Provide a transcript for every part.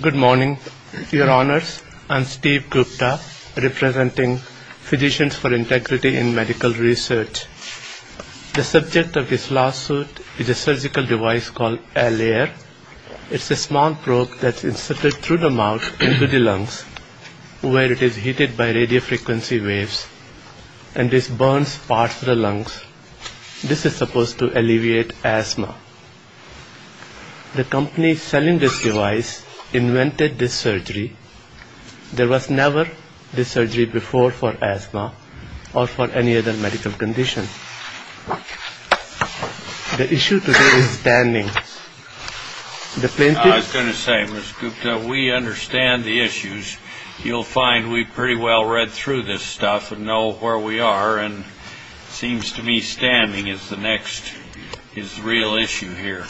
Good morning, Your Honours. I am Steve Gupta, representing Physicians for Integrity in Medical Research. The subject of this lawsuit is a surgical device called Al-Air. It is a small probe that is inserted through the mouth into the lungs, where it is heated by radiofrequency waves and this burns parts of the lungs. This is supposed to alleviate asthma. The company selling this device invented this surgery. There was never this surgery before for asthma or for any other medical condition. The issue today is stamming. The plaintiff... I was going to say, Mr. Gupta, we understand the issues. You will find we have pretty well read through this stuff and know where we are and it seems to me stamming is the next real issue here.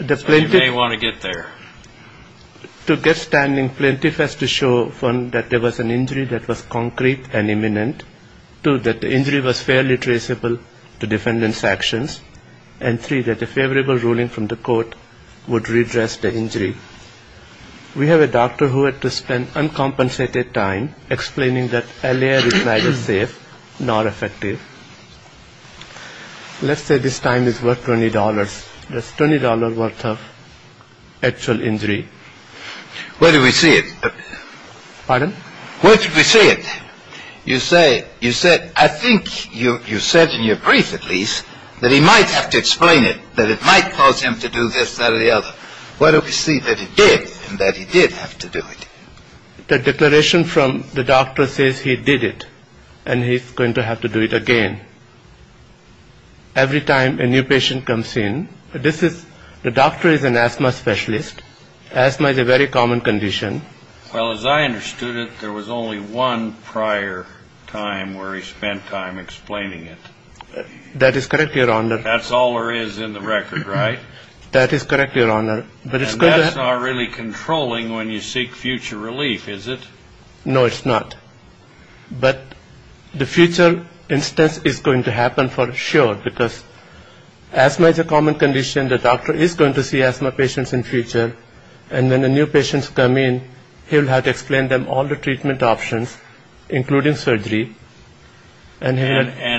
You may want to get there. To get stamming, the plaintiff has to show, one, that there was an injury that was concrete and imminent, two, that the injury was fairly traceable to defendant's actions, and three, that a favorable ruling from the court would redress the injury. We have a doctor who had to spend uncompensated time explaining that Al-Air is neither safe nor effective. Let's say this time is worth $20. That's $20 worth of actual injury. Where do we see it? Pardon? Where do we see it? You say, you said, I think you said in your brief at least, that he might have to explain it, that it might cause him to do this, that or the other. Where do we see that he did and that he did have to do it? The declaration from the doctor says he did it and he's going to have to do it again. Every time a new patient comes in, this is, the doctor is an asthma specialist. Asthma is a very common condition. Well, as I understood it, there was only one prior time where he spent time explaining it. That is correct, Your Honor. That's all there is in the record, right? That is correct, Your Honor. And that's not really controlling when you seek future relief, is it? No, it's not. But the future instance is going to happen for sure, because asthma is a common condition. The doctor is going to see asthma patients in future. And when the new patients come in, he'll have to explain them all the treatment options, including surgery. And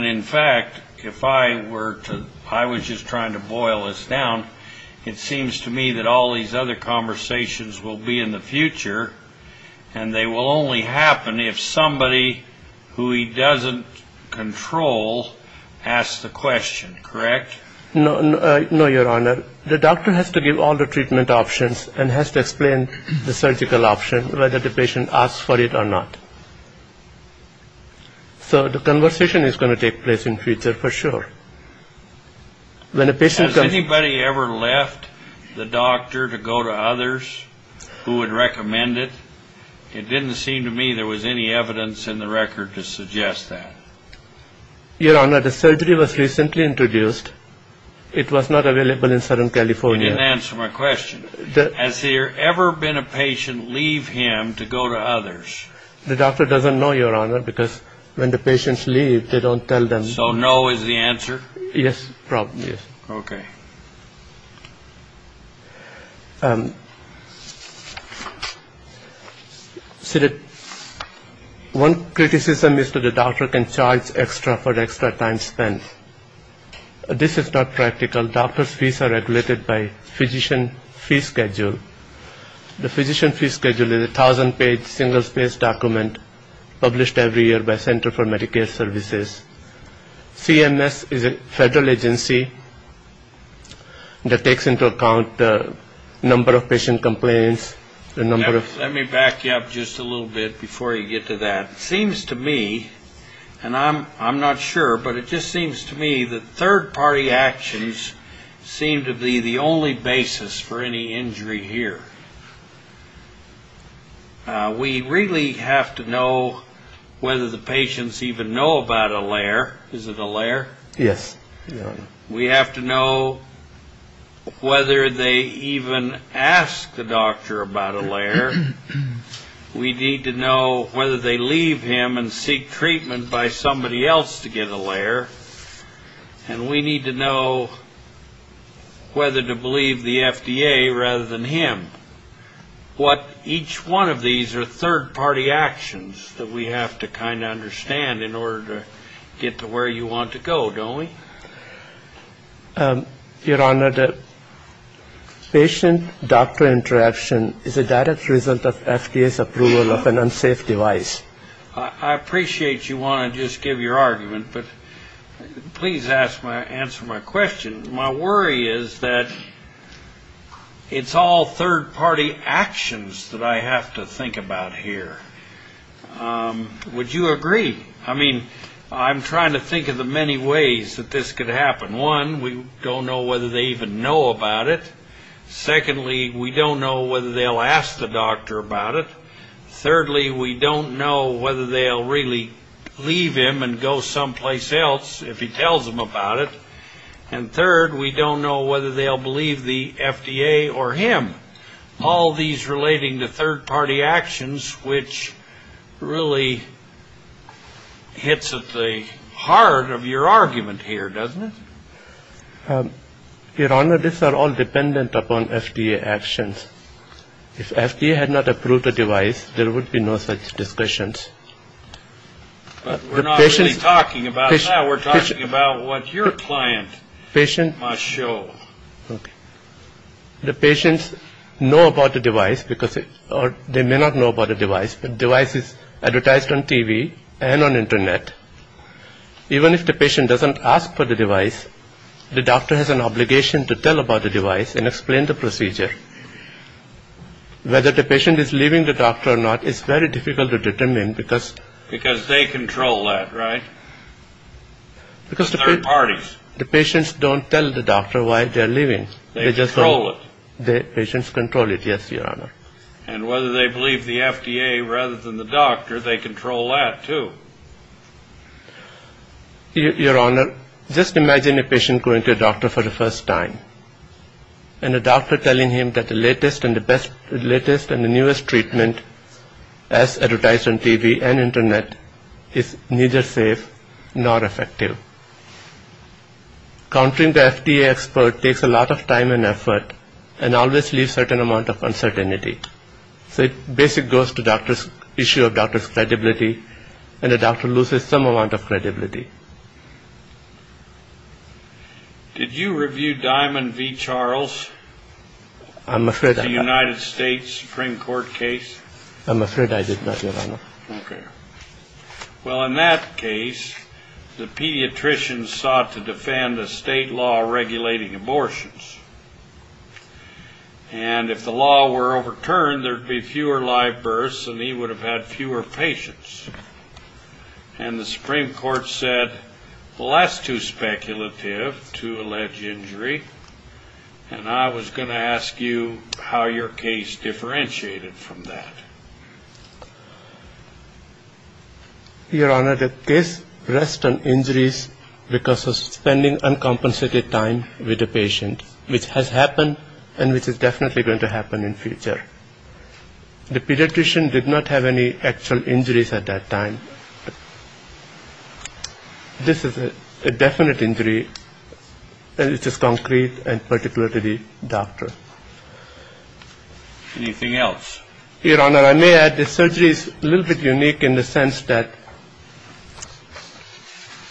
in fact, if I were to, I was just trying to boil this down, it seems to me that all these other conversations will be in the future, and they will only happen if somebody who he doesn't control asks the question, correct? No, Your Honor. The doctor has to give all the treatment options and has to explain the So the conversation is going to take place in future for sure. Has anybody ever left the doctor to go to others who would recommend it? It didn't seem to me there was any evidence in the record to suggest that. Your Honor, the surgery was recently introduced. It was not available in Southern California. You didn't answer my question. Has there ever been a patient leave him to go to others? The doctor doesn't know, Your Honor, because when the patients leave, they don't tell them. So no is the answer? Yes, probably. Okay. One criticism is that the doctor can charge extra for extra time spent. This is not practical. Doctors' fees are regulated by physician fee schedule. The physician fee schedule is a 1,000-page, single-spaced document published every year by Center for Medicare Services. CMS is a federal agency that takes into account the number of patient complaints, the number of Let me back you up just a little bit before you get to that. It seems to me, and I'm not sure, but it just seems to me that third-party actions seem to be the only basis for any We really have to know whether the patients even know about a layer. Is it a layer? Yes, Your Honor. We have to know whether they even ask the doctor about a layer. We need to know whether they leave him and seek treatment by somebody else to get a layer. And we need to know whether to believe the FDA rather than him. What each one of these are third-party actions that we have to kind of understand in order to get to where you want to go, don't we? Your Honor, the patient-doctor interaction is a direct result of FDA's approval of an unsafe device. I appreciate you want to just give your argument, but please answer my question. My worry is that it's all third-party actions that I have to think about here. Would you agree? I mean, I'm trying to think of the many ways that this could happen. One, we don't know whether they even know about it. Secondly, we don't know whether they'll ask the doctor about it. Thirdly, we don't know whether they'll really leave him and go someplace else if he tells them about it. And third, we don't know whether they'll believe the FDA or him. All these relating to third-party actions, which really hits at the heart of your argument here, doesn't it? Your Honor, these are all dependent upon FDA actions. If FDA had not approved the device, there would be no such discussions. We're not really talking about that. We're talking about what your client must show. The patients know about the device, or they may not know about the device, but the device is advertised on TV and on Internet. Even if the patient doesn't ask for the device, the doctor has an obligation to tell about the device and explain the procedure. Whether the patient is leaving the doctor or not is very difficult to determine because Because they control that, right? Because the patients don't tell the doctor why they're leaving. They control it. The patients control it, yes, Your Honor. And whether they believe the FDA rather than the doctor, they control that, too. Your Honor, just imagine a patient going to a doctor for the first time, and the doctor telling him that the latest and the best, the latest and the newest treatment, as advertised on TV and Internet, is neither safe nor effective. Countering the FDA expert takes a lot of time and effort, and always leaves a certain amount of uncertainty. So it basically goes to the issue of the doctor's credibility, and the doctor loses some amount of credibility. Did you review Diamond v. Charles? I'm afraid I did not. The United States Supreme Court case? I'm afraid I did not, Your Honor. Okay. Well, in that case, the pediatrician sought to defend a state law regulating abortions. And if the law were overturned, there would be fewer live births, and he would have had less to speculative to allege injury. And I was going to ask you how your case differentiated from that. Your Honor, the case rests on injuries because of spending uncompensated time with the patient, which has happened, and which is definitely going to happen in the future. The pediatrician did not have any actual injuries at that time. This is a definite injury, which is concrete and particular to the doctor. Anything else? Your Honor, I may add that surgery is a little bit unique in the sense that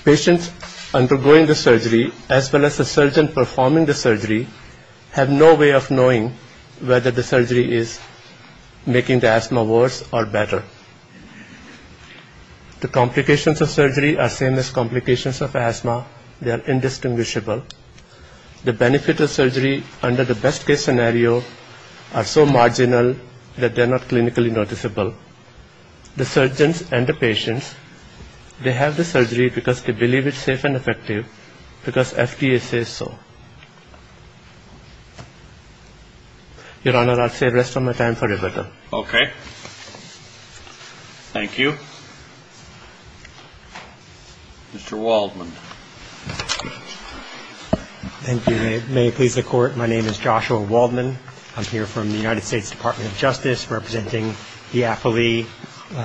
patients undergoing the surgery, as well as the surgeon performing the surgery, have no way of knowing whether the surgery is making the asthma worse or better. The complications of surgery are same as complications of asthma. They are indistinguishable. The benefit of surgery under the best-case scenario are so marginal that they're not clinically noticeable. The surgeons and the patients, they have the surgery because they believe it's safe and effective, because FDA says so. Your Honor, I'll say rest of my time for rebuttal. Okay. Thank you. Mr. Waldman. Thank you. May it please the Court, my name is Joshua Waldman. I'm here from the United States Department of Justice representing the affilee,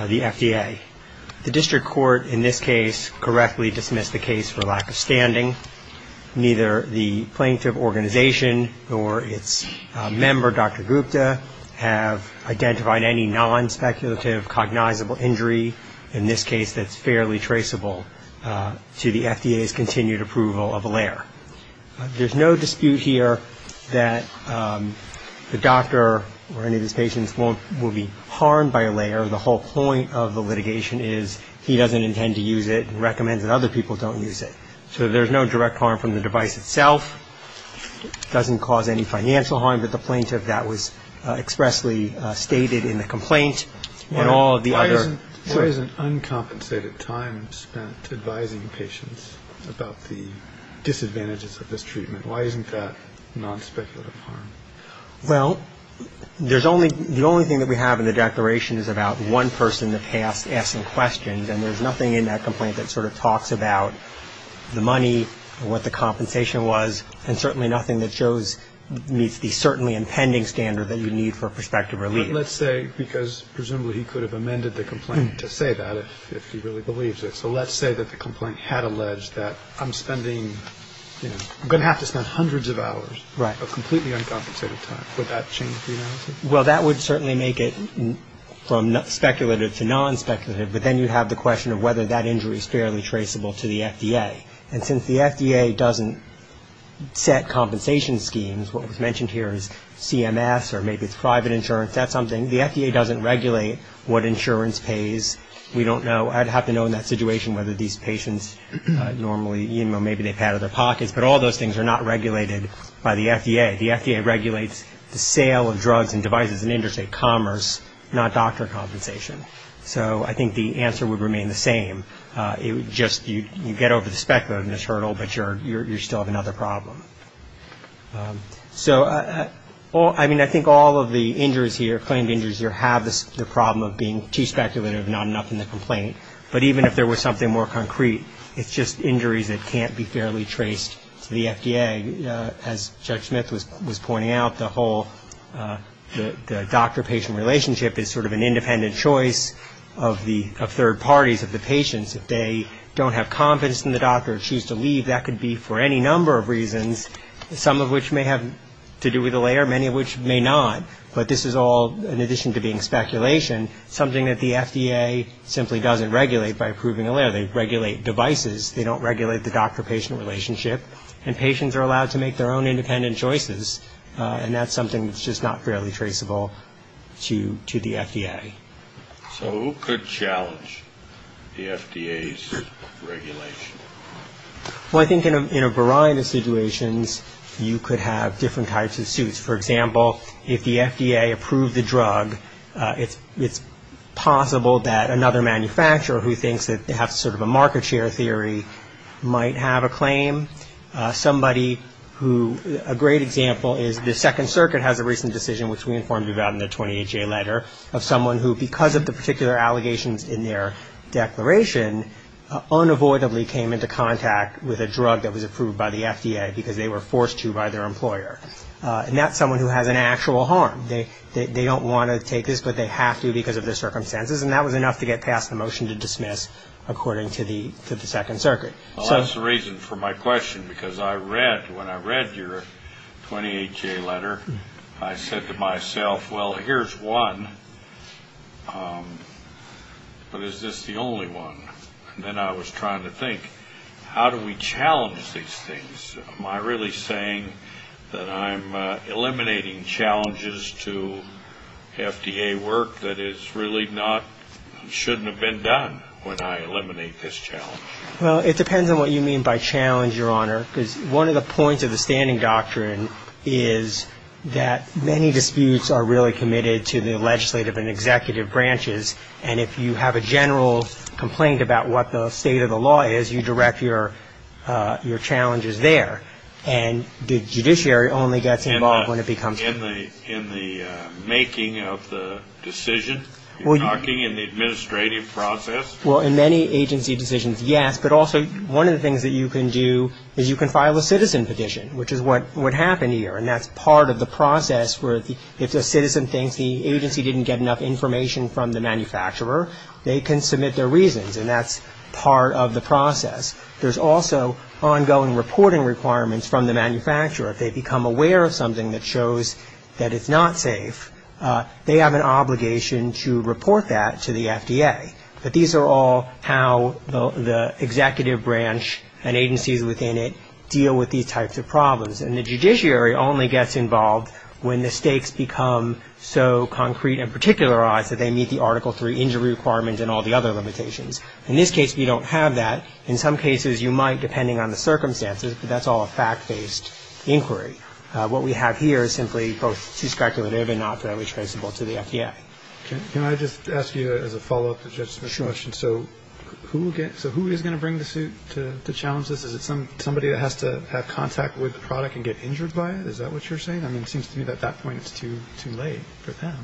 the FDA. The district court in this case correctly dismissed the case for lack of standing. Neither the plaintiff organization nor its member, Dr. Gupta, have identified any non-speculative cognizable injury, in this case that's fairly traceable, to the FDA's continued approval of ALAIR. There's no dispute here that the doctor or any of his patients will be harmed by ALAIR. The whole point of the litigation is he doesn't intend to use it and recommends that other people don't use it. So there's no direct harm from the device itself, doesn't cause any financial harm, but the plaintiff, that was expressly stated in the complaint and all of the other. Why isn't uncompensated time spent advising patients about the disadvantages of this treatment? Why isn't that non-speculative harm? Well, the only thing that we have in the declaration is about one person that has asked some questions, and there's nothing in that complaint that sort of talks about the money, what the compensation was, and certainly nothing that shows meets the certainly impending standard that you need for prospective relief. Let's say, because presumably he could have amended the complaint to say that if he really believes it, so let's say that the complaint had alleged that I'm spending, you know, I'm going to have to spend hundreds of hours of completely uncompensated time. Would that change the analysis? Well, that would certainly make it from speculative to non-speculative, but then you have the question of whether that injury is fairly traceable to the FDA. And since the FDA doesn't set compensation schemes, what was mentioned here is CMS or maybe it's private insurance, that's something. The FDA doesn't regulate what insurance pays. We don't know. I'd have to know in that situation whether these patients normally, you know, maybe they've had it in their pockets, but all those things are not regulated by the FDA. The FDA regulates the sale of drugs and devices in interstate commerce, not doctor compensation. So I think the answer would remain the same. It would just, you get over the speculativeness hurdle, but you still have another problem. So, I mean, I think all of the injuries here, claimed injuries here, have the problem of being too speculative and not enough in the complaint. But even if there was something more concrete, it's just injuries that can't be fairly traced to the FDA. As Judge Smith was pointing out, the whole doctor-patient relationship is sort of an independent choice of third parties, of the patients. If they don't have confidence in the doctor or choose to leave, that could be for any number of reasons, some of which may have to do with the layer, many of which may not. But this is all, in addition to being speculation, something that the FDA simply doesn't regulate by approving a layer. They regulate devices. They don't regulate the doctor-patient relationship. And patients are allowed to make their own independent choices, and that's something that's just not fairly traceable to the FDA. So who could challenge the FDA's regulation? Well, I think in a variety of situations, you could have different types of suits. For example, if the FDA approved the drug, it's possible that another manufacturer who thinks that they have sort of a market share theory might have a claim. Somebody who, a great example is the Second Circuit has a recent decision, which we informed you about in the 28-J letter, of someone who, because of the particular allegations in their declaration, unavoidably came into contact with a drug that was approved by the FDA because they were forced to by their employer. And that's someone who has an actual harm. They don't want to take this, but they have to because of their circumstances. And that was enough to get past the motion to dismiss, according to the Second Circuit. Well, that's the reason for my question, because I read, when I read your 28-J letter, I said to myself, well, here's one, but is this the only one? And then I was trying to think, how do we challenge these things? Am I really saying that I'm eliminating challenges to FDA work that is really not, shouldn't have been done when I eliminate this challenge? Well, it depends on what you mean by challenge, Your Honor, because one of the points of the standing doctrine is that many disputes are really committed to the legislative and executive branches, and if you have a general complaint about what the state of the law is, you direct your challenges there. And the judiciary only gets involved when it becomes... In the making of the decision? You're talking in the administrative process? Well, in many agency decisions, yes, but also one of the things that you can do is you can file a citizen petition, which is what happened here, and that's part of the process where if the citizen thinks the agency didn't get enough information from the manufacturer, they can submit their reasons, and that's part of the process. There's also ongoing reporting requirements from the manufacturer. If they become aware of something that shows that it's not safe, they have an obligation to report that to the FDA. But these are all how the executive branch and agencies within it deal with these types of problems, and the judiciary only gets involved when the stakes become so concrete and particularized that they meet the Article III injury requirements and all the other limitations. In this case, we don't have that. In some cases, you might, depending on the circumstances, but that's all a fact-based inquiry. What we have here is simply both too speculative and not fairly traceable to the FDA. Can I just ask you as a follow-up to Judge Smith's question, so who is going to bring the suit to challenge this? Is it somebody that has to have contact with the product and get injured by it? Is that what you're saying? I mean, it seems to me that at that point it's too late for them.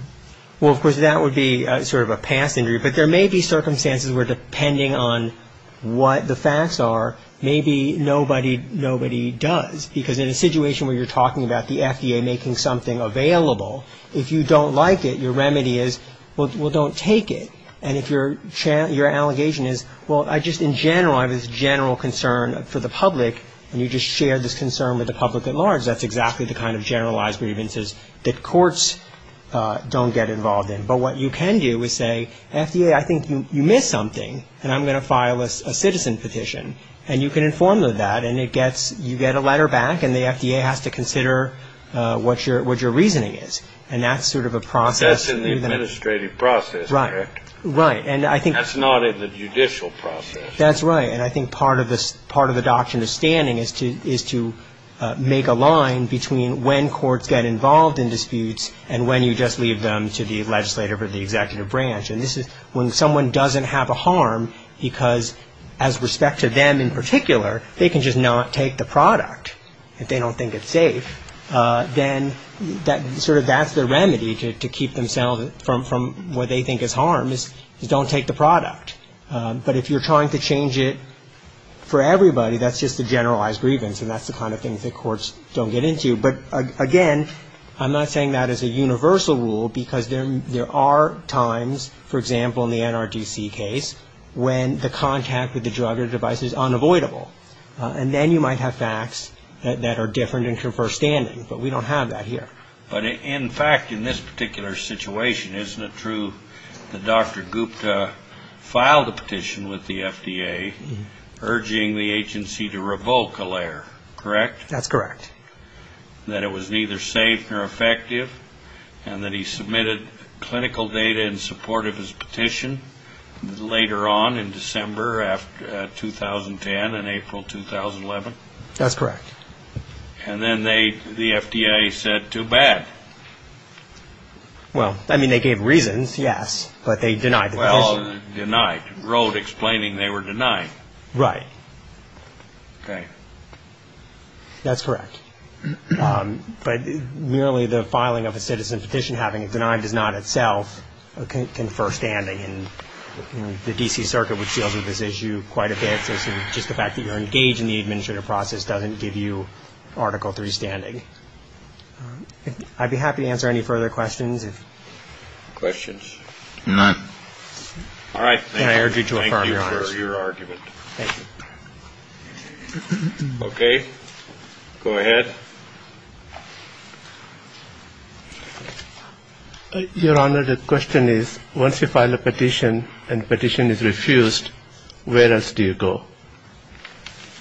Well, of course, that would be sort of a past injury, but there may be circumstances where, depending on what the facts are, maybe nobody does, because in a situation where you're talking about the FDA making something available, if you don't like it, your remedy is, well, don't take it. And if your allegation is, well, I just in general have this general concern for the public, and you just shared this concern with the public at large, that's exactly the kind of generalized grievances that courts don't get involved in. But what you can do is say, FDA, I think you missed something, and I'm going to file a citizen petition. And you can inform them of that, and you get a letter back, and the FDA has to consider what your reasoning is, and that's sort of a process. That's in the administrative process, correct? Right. That's not in the judicial process. That's right. And I think part of the doctrine of standing is to make a line between when courts get involved in disputes and when you just leave them to the legislative or the executive branch. And this is when someone doesn't have a harm because, as respect to them in particular, they can just not take the product if they don't think it's safe, then sort of that's the remedy to keep themselves from what they think is harm, is don't take the product. But if you're trying to change it for everybody, that's just a generalized grievance, and that's the kind of thing that courts don't get into. But, again, I'm not saying that as a universal rule because there are times, for example, in the NRDC case, when the contact with the drug or device is unavoidable. And then you might have facts that are different and confer standing, but we don't have that here. But, in fact, in this particular situation, isn't it true that Dr. Gupta filed a petition with the FDA, urging the agency to revoke ALAIR, correct? That's correct. That it was neither safe nor effective, and that he submitted clinical data in support of his petition later on in December 2010 and April 2011? That's correct. And then the FDA said, too bad. Well, I mean, they gave reasons, yes, but they denied the petition. Well, denied. Wrote explaining they were denied. Right. Okay. That's correct. But merely the filing of a citizen petition, having it denied, does not itself confer standing. And the D.C. Circuit would deal with this issue quite a bit, just the fact that you're engaged in the administrative process doesn't give you article three standing. I'd be happy to answer any further questions. Questions? None. All right. And I urge you to affirm your argument. Thank you for your argument. Thank you. Okay, go ahead. Your Honor, the question is, once you file a petition and the petition is refused, where else do you go?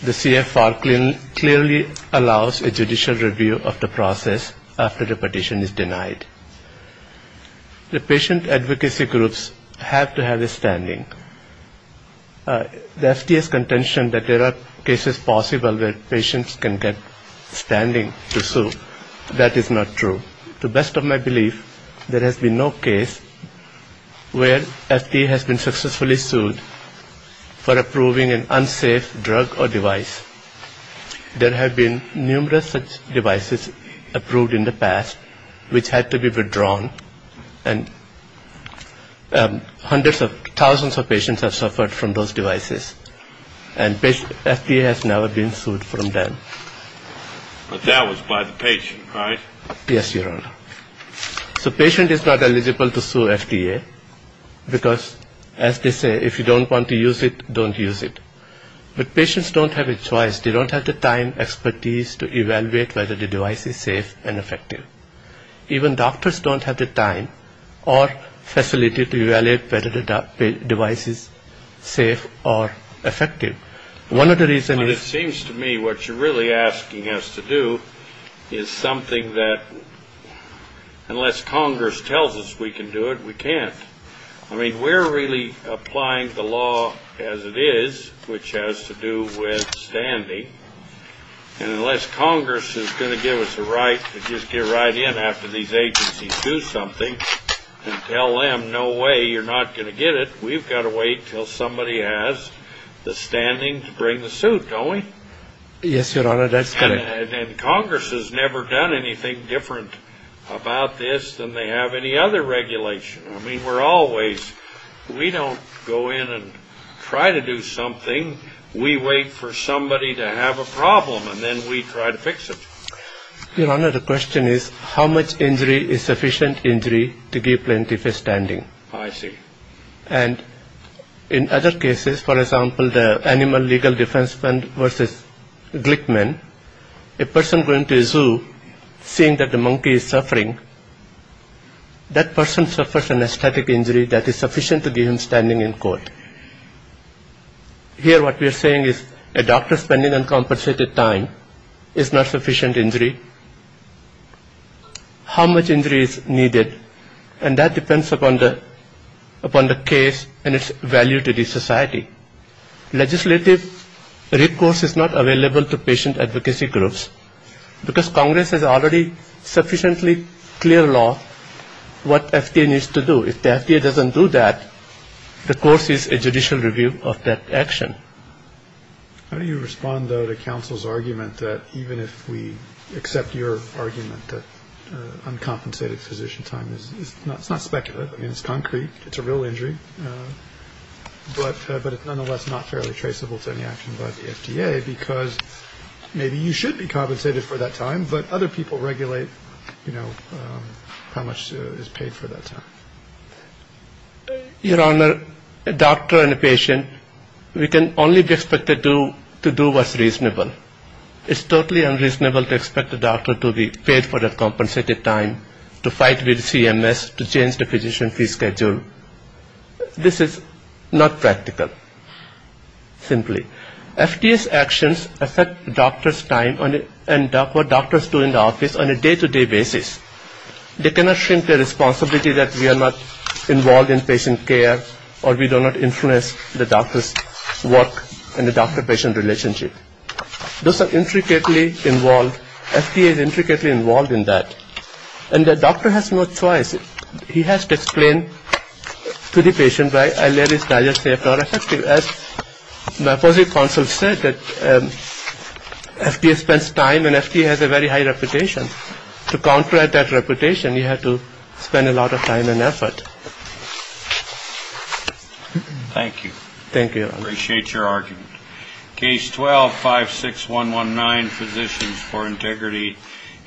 The CFR clearly allows a judicial review of the process after the petition is denied. The patient advocacy groups have to have a standing. The FDA's contention that there are cases possible where patients can get standing to sue, that is not true. To the best of my belief, there has been no case where FDA has been successfully sued for approving an unsafe drug or device. There have been numerous such devices approved in the past which had to be withdrawn, and hundreds of thousands of patients have suffered from those devices. And FDA has never been sued from them. But that was by the patient, right? Yes, Your Honor. So patient is not eligible to sue FDA because, as they say, if you don't want to use it, don't use it. But patients don't have a choice. They don't have the time, expertise to evaluate whether the device is safe and effective. Even doctors don't have the time or facility to evaluate whether the device is safe or effective. One of the reasons is... But it seems to me what you're really asking us to do is something that unless Congress tells us we can do it, we can't. I mean, we're really applying the law as it is, which has to do with standing, and unless Congress is going to give us the right to just get right in after these agencies do something and tell them, no way, you're not going to get it, we've got to wait until somebody has the standing to bring the suit, don't we? Yes, Your Honor, that's correct. And Congress has never done anything different about this than they have any other regulation. I mean, we're always... We don't go in and try to do something. We wait for somebody to have a problem, and then we try to fix it. Your Honor, the question is how much injury is sufficient injury to give plenty of standing? I see. And in other cases, for example, the Animal Legal Defense Fund versus Glickman, a person going to a zoo, seeing that the monkey is suffering, that person suffers an aesthetic injury that is sufficient to give him standing in court. Here what we are saying is a doctor spending uncompensated time is not sufficient injury. How much injury is needed, and that depends upon the case and its value to the society. Legislative recourse is not available to patient advocacy groups because Congress has already sufficiently clear law what FDA needs to do. If the FDA doesn't do that, recourse is a judicial review of that action. How do you respond, though, to counsel's argument that even if we accept your argument that uncompensated physician time is not speculative? I mean, it's concrete, it's a real injury, but it's nonetheless not fairly traceable to any action by the FDA because maybe you should be compensated for that time, but other people regulate, you know, how much is paid for that time. Your Honor, a doctor and a patient, we can only expect to do what's reasonable. It's totally unreasonable to expect a doctor to be paid for uncompensated time, to fight with CMS, to change the physician fee schedule. This is not practical, simply. FDA's actions affect doctor's time and what doctors do in the office on a day-to-day basis. They cannot shrink the responsibility that we are not involved in patient care or we do not influence the doctor's work and the doctor-patient relationship. Those are intricately involved. FDA is intricately involved in that, and the doctor has no choice. He has to explain to the patient, right, and let his doctor say it's not effective. As my positive counsel said, that FDA spends time and FDA has a very high reputation. To counteract that reputation, you have to spend a lot of time and effort. Thank you. Thank you, Your Honor. I appreciate your argument. Case 12-56119, Physicians for Integrity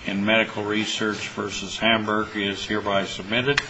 in Medical Research v. Hamburg, is hereby submitted.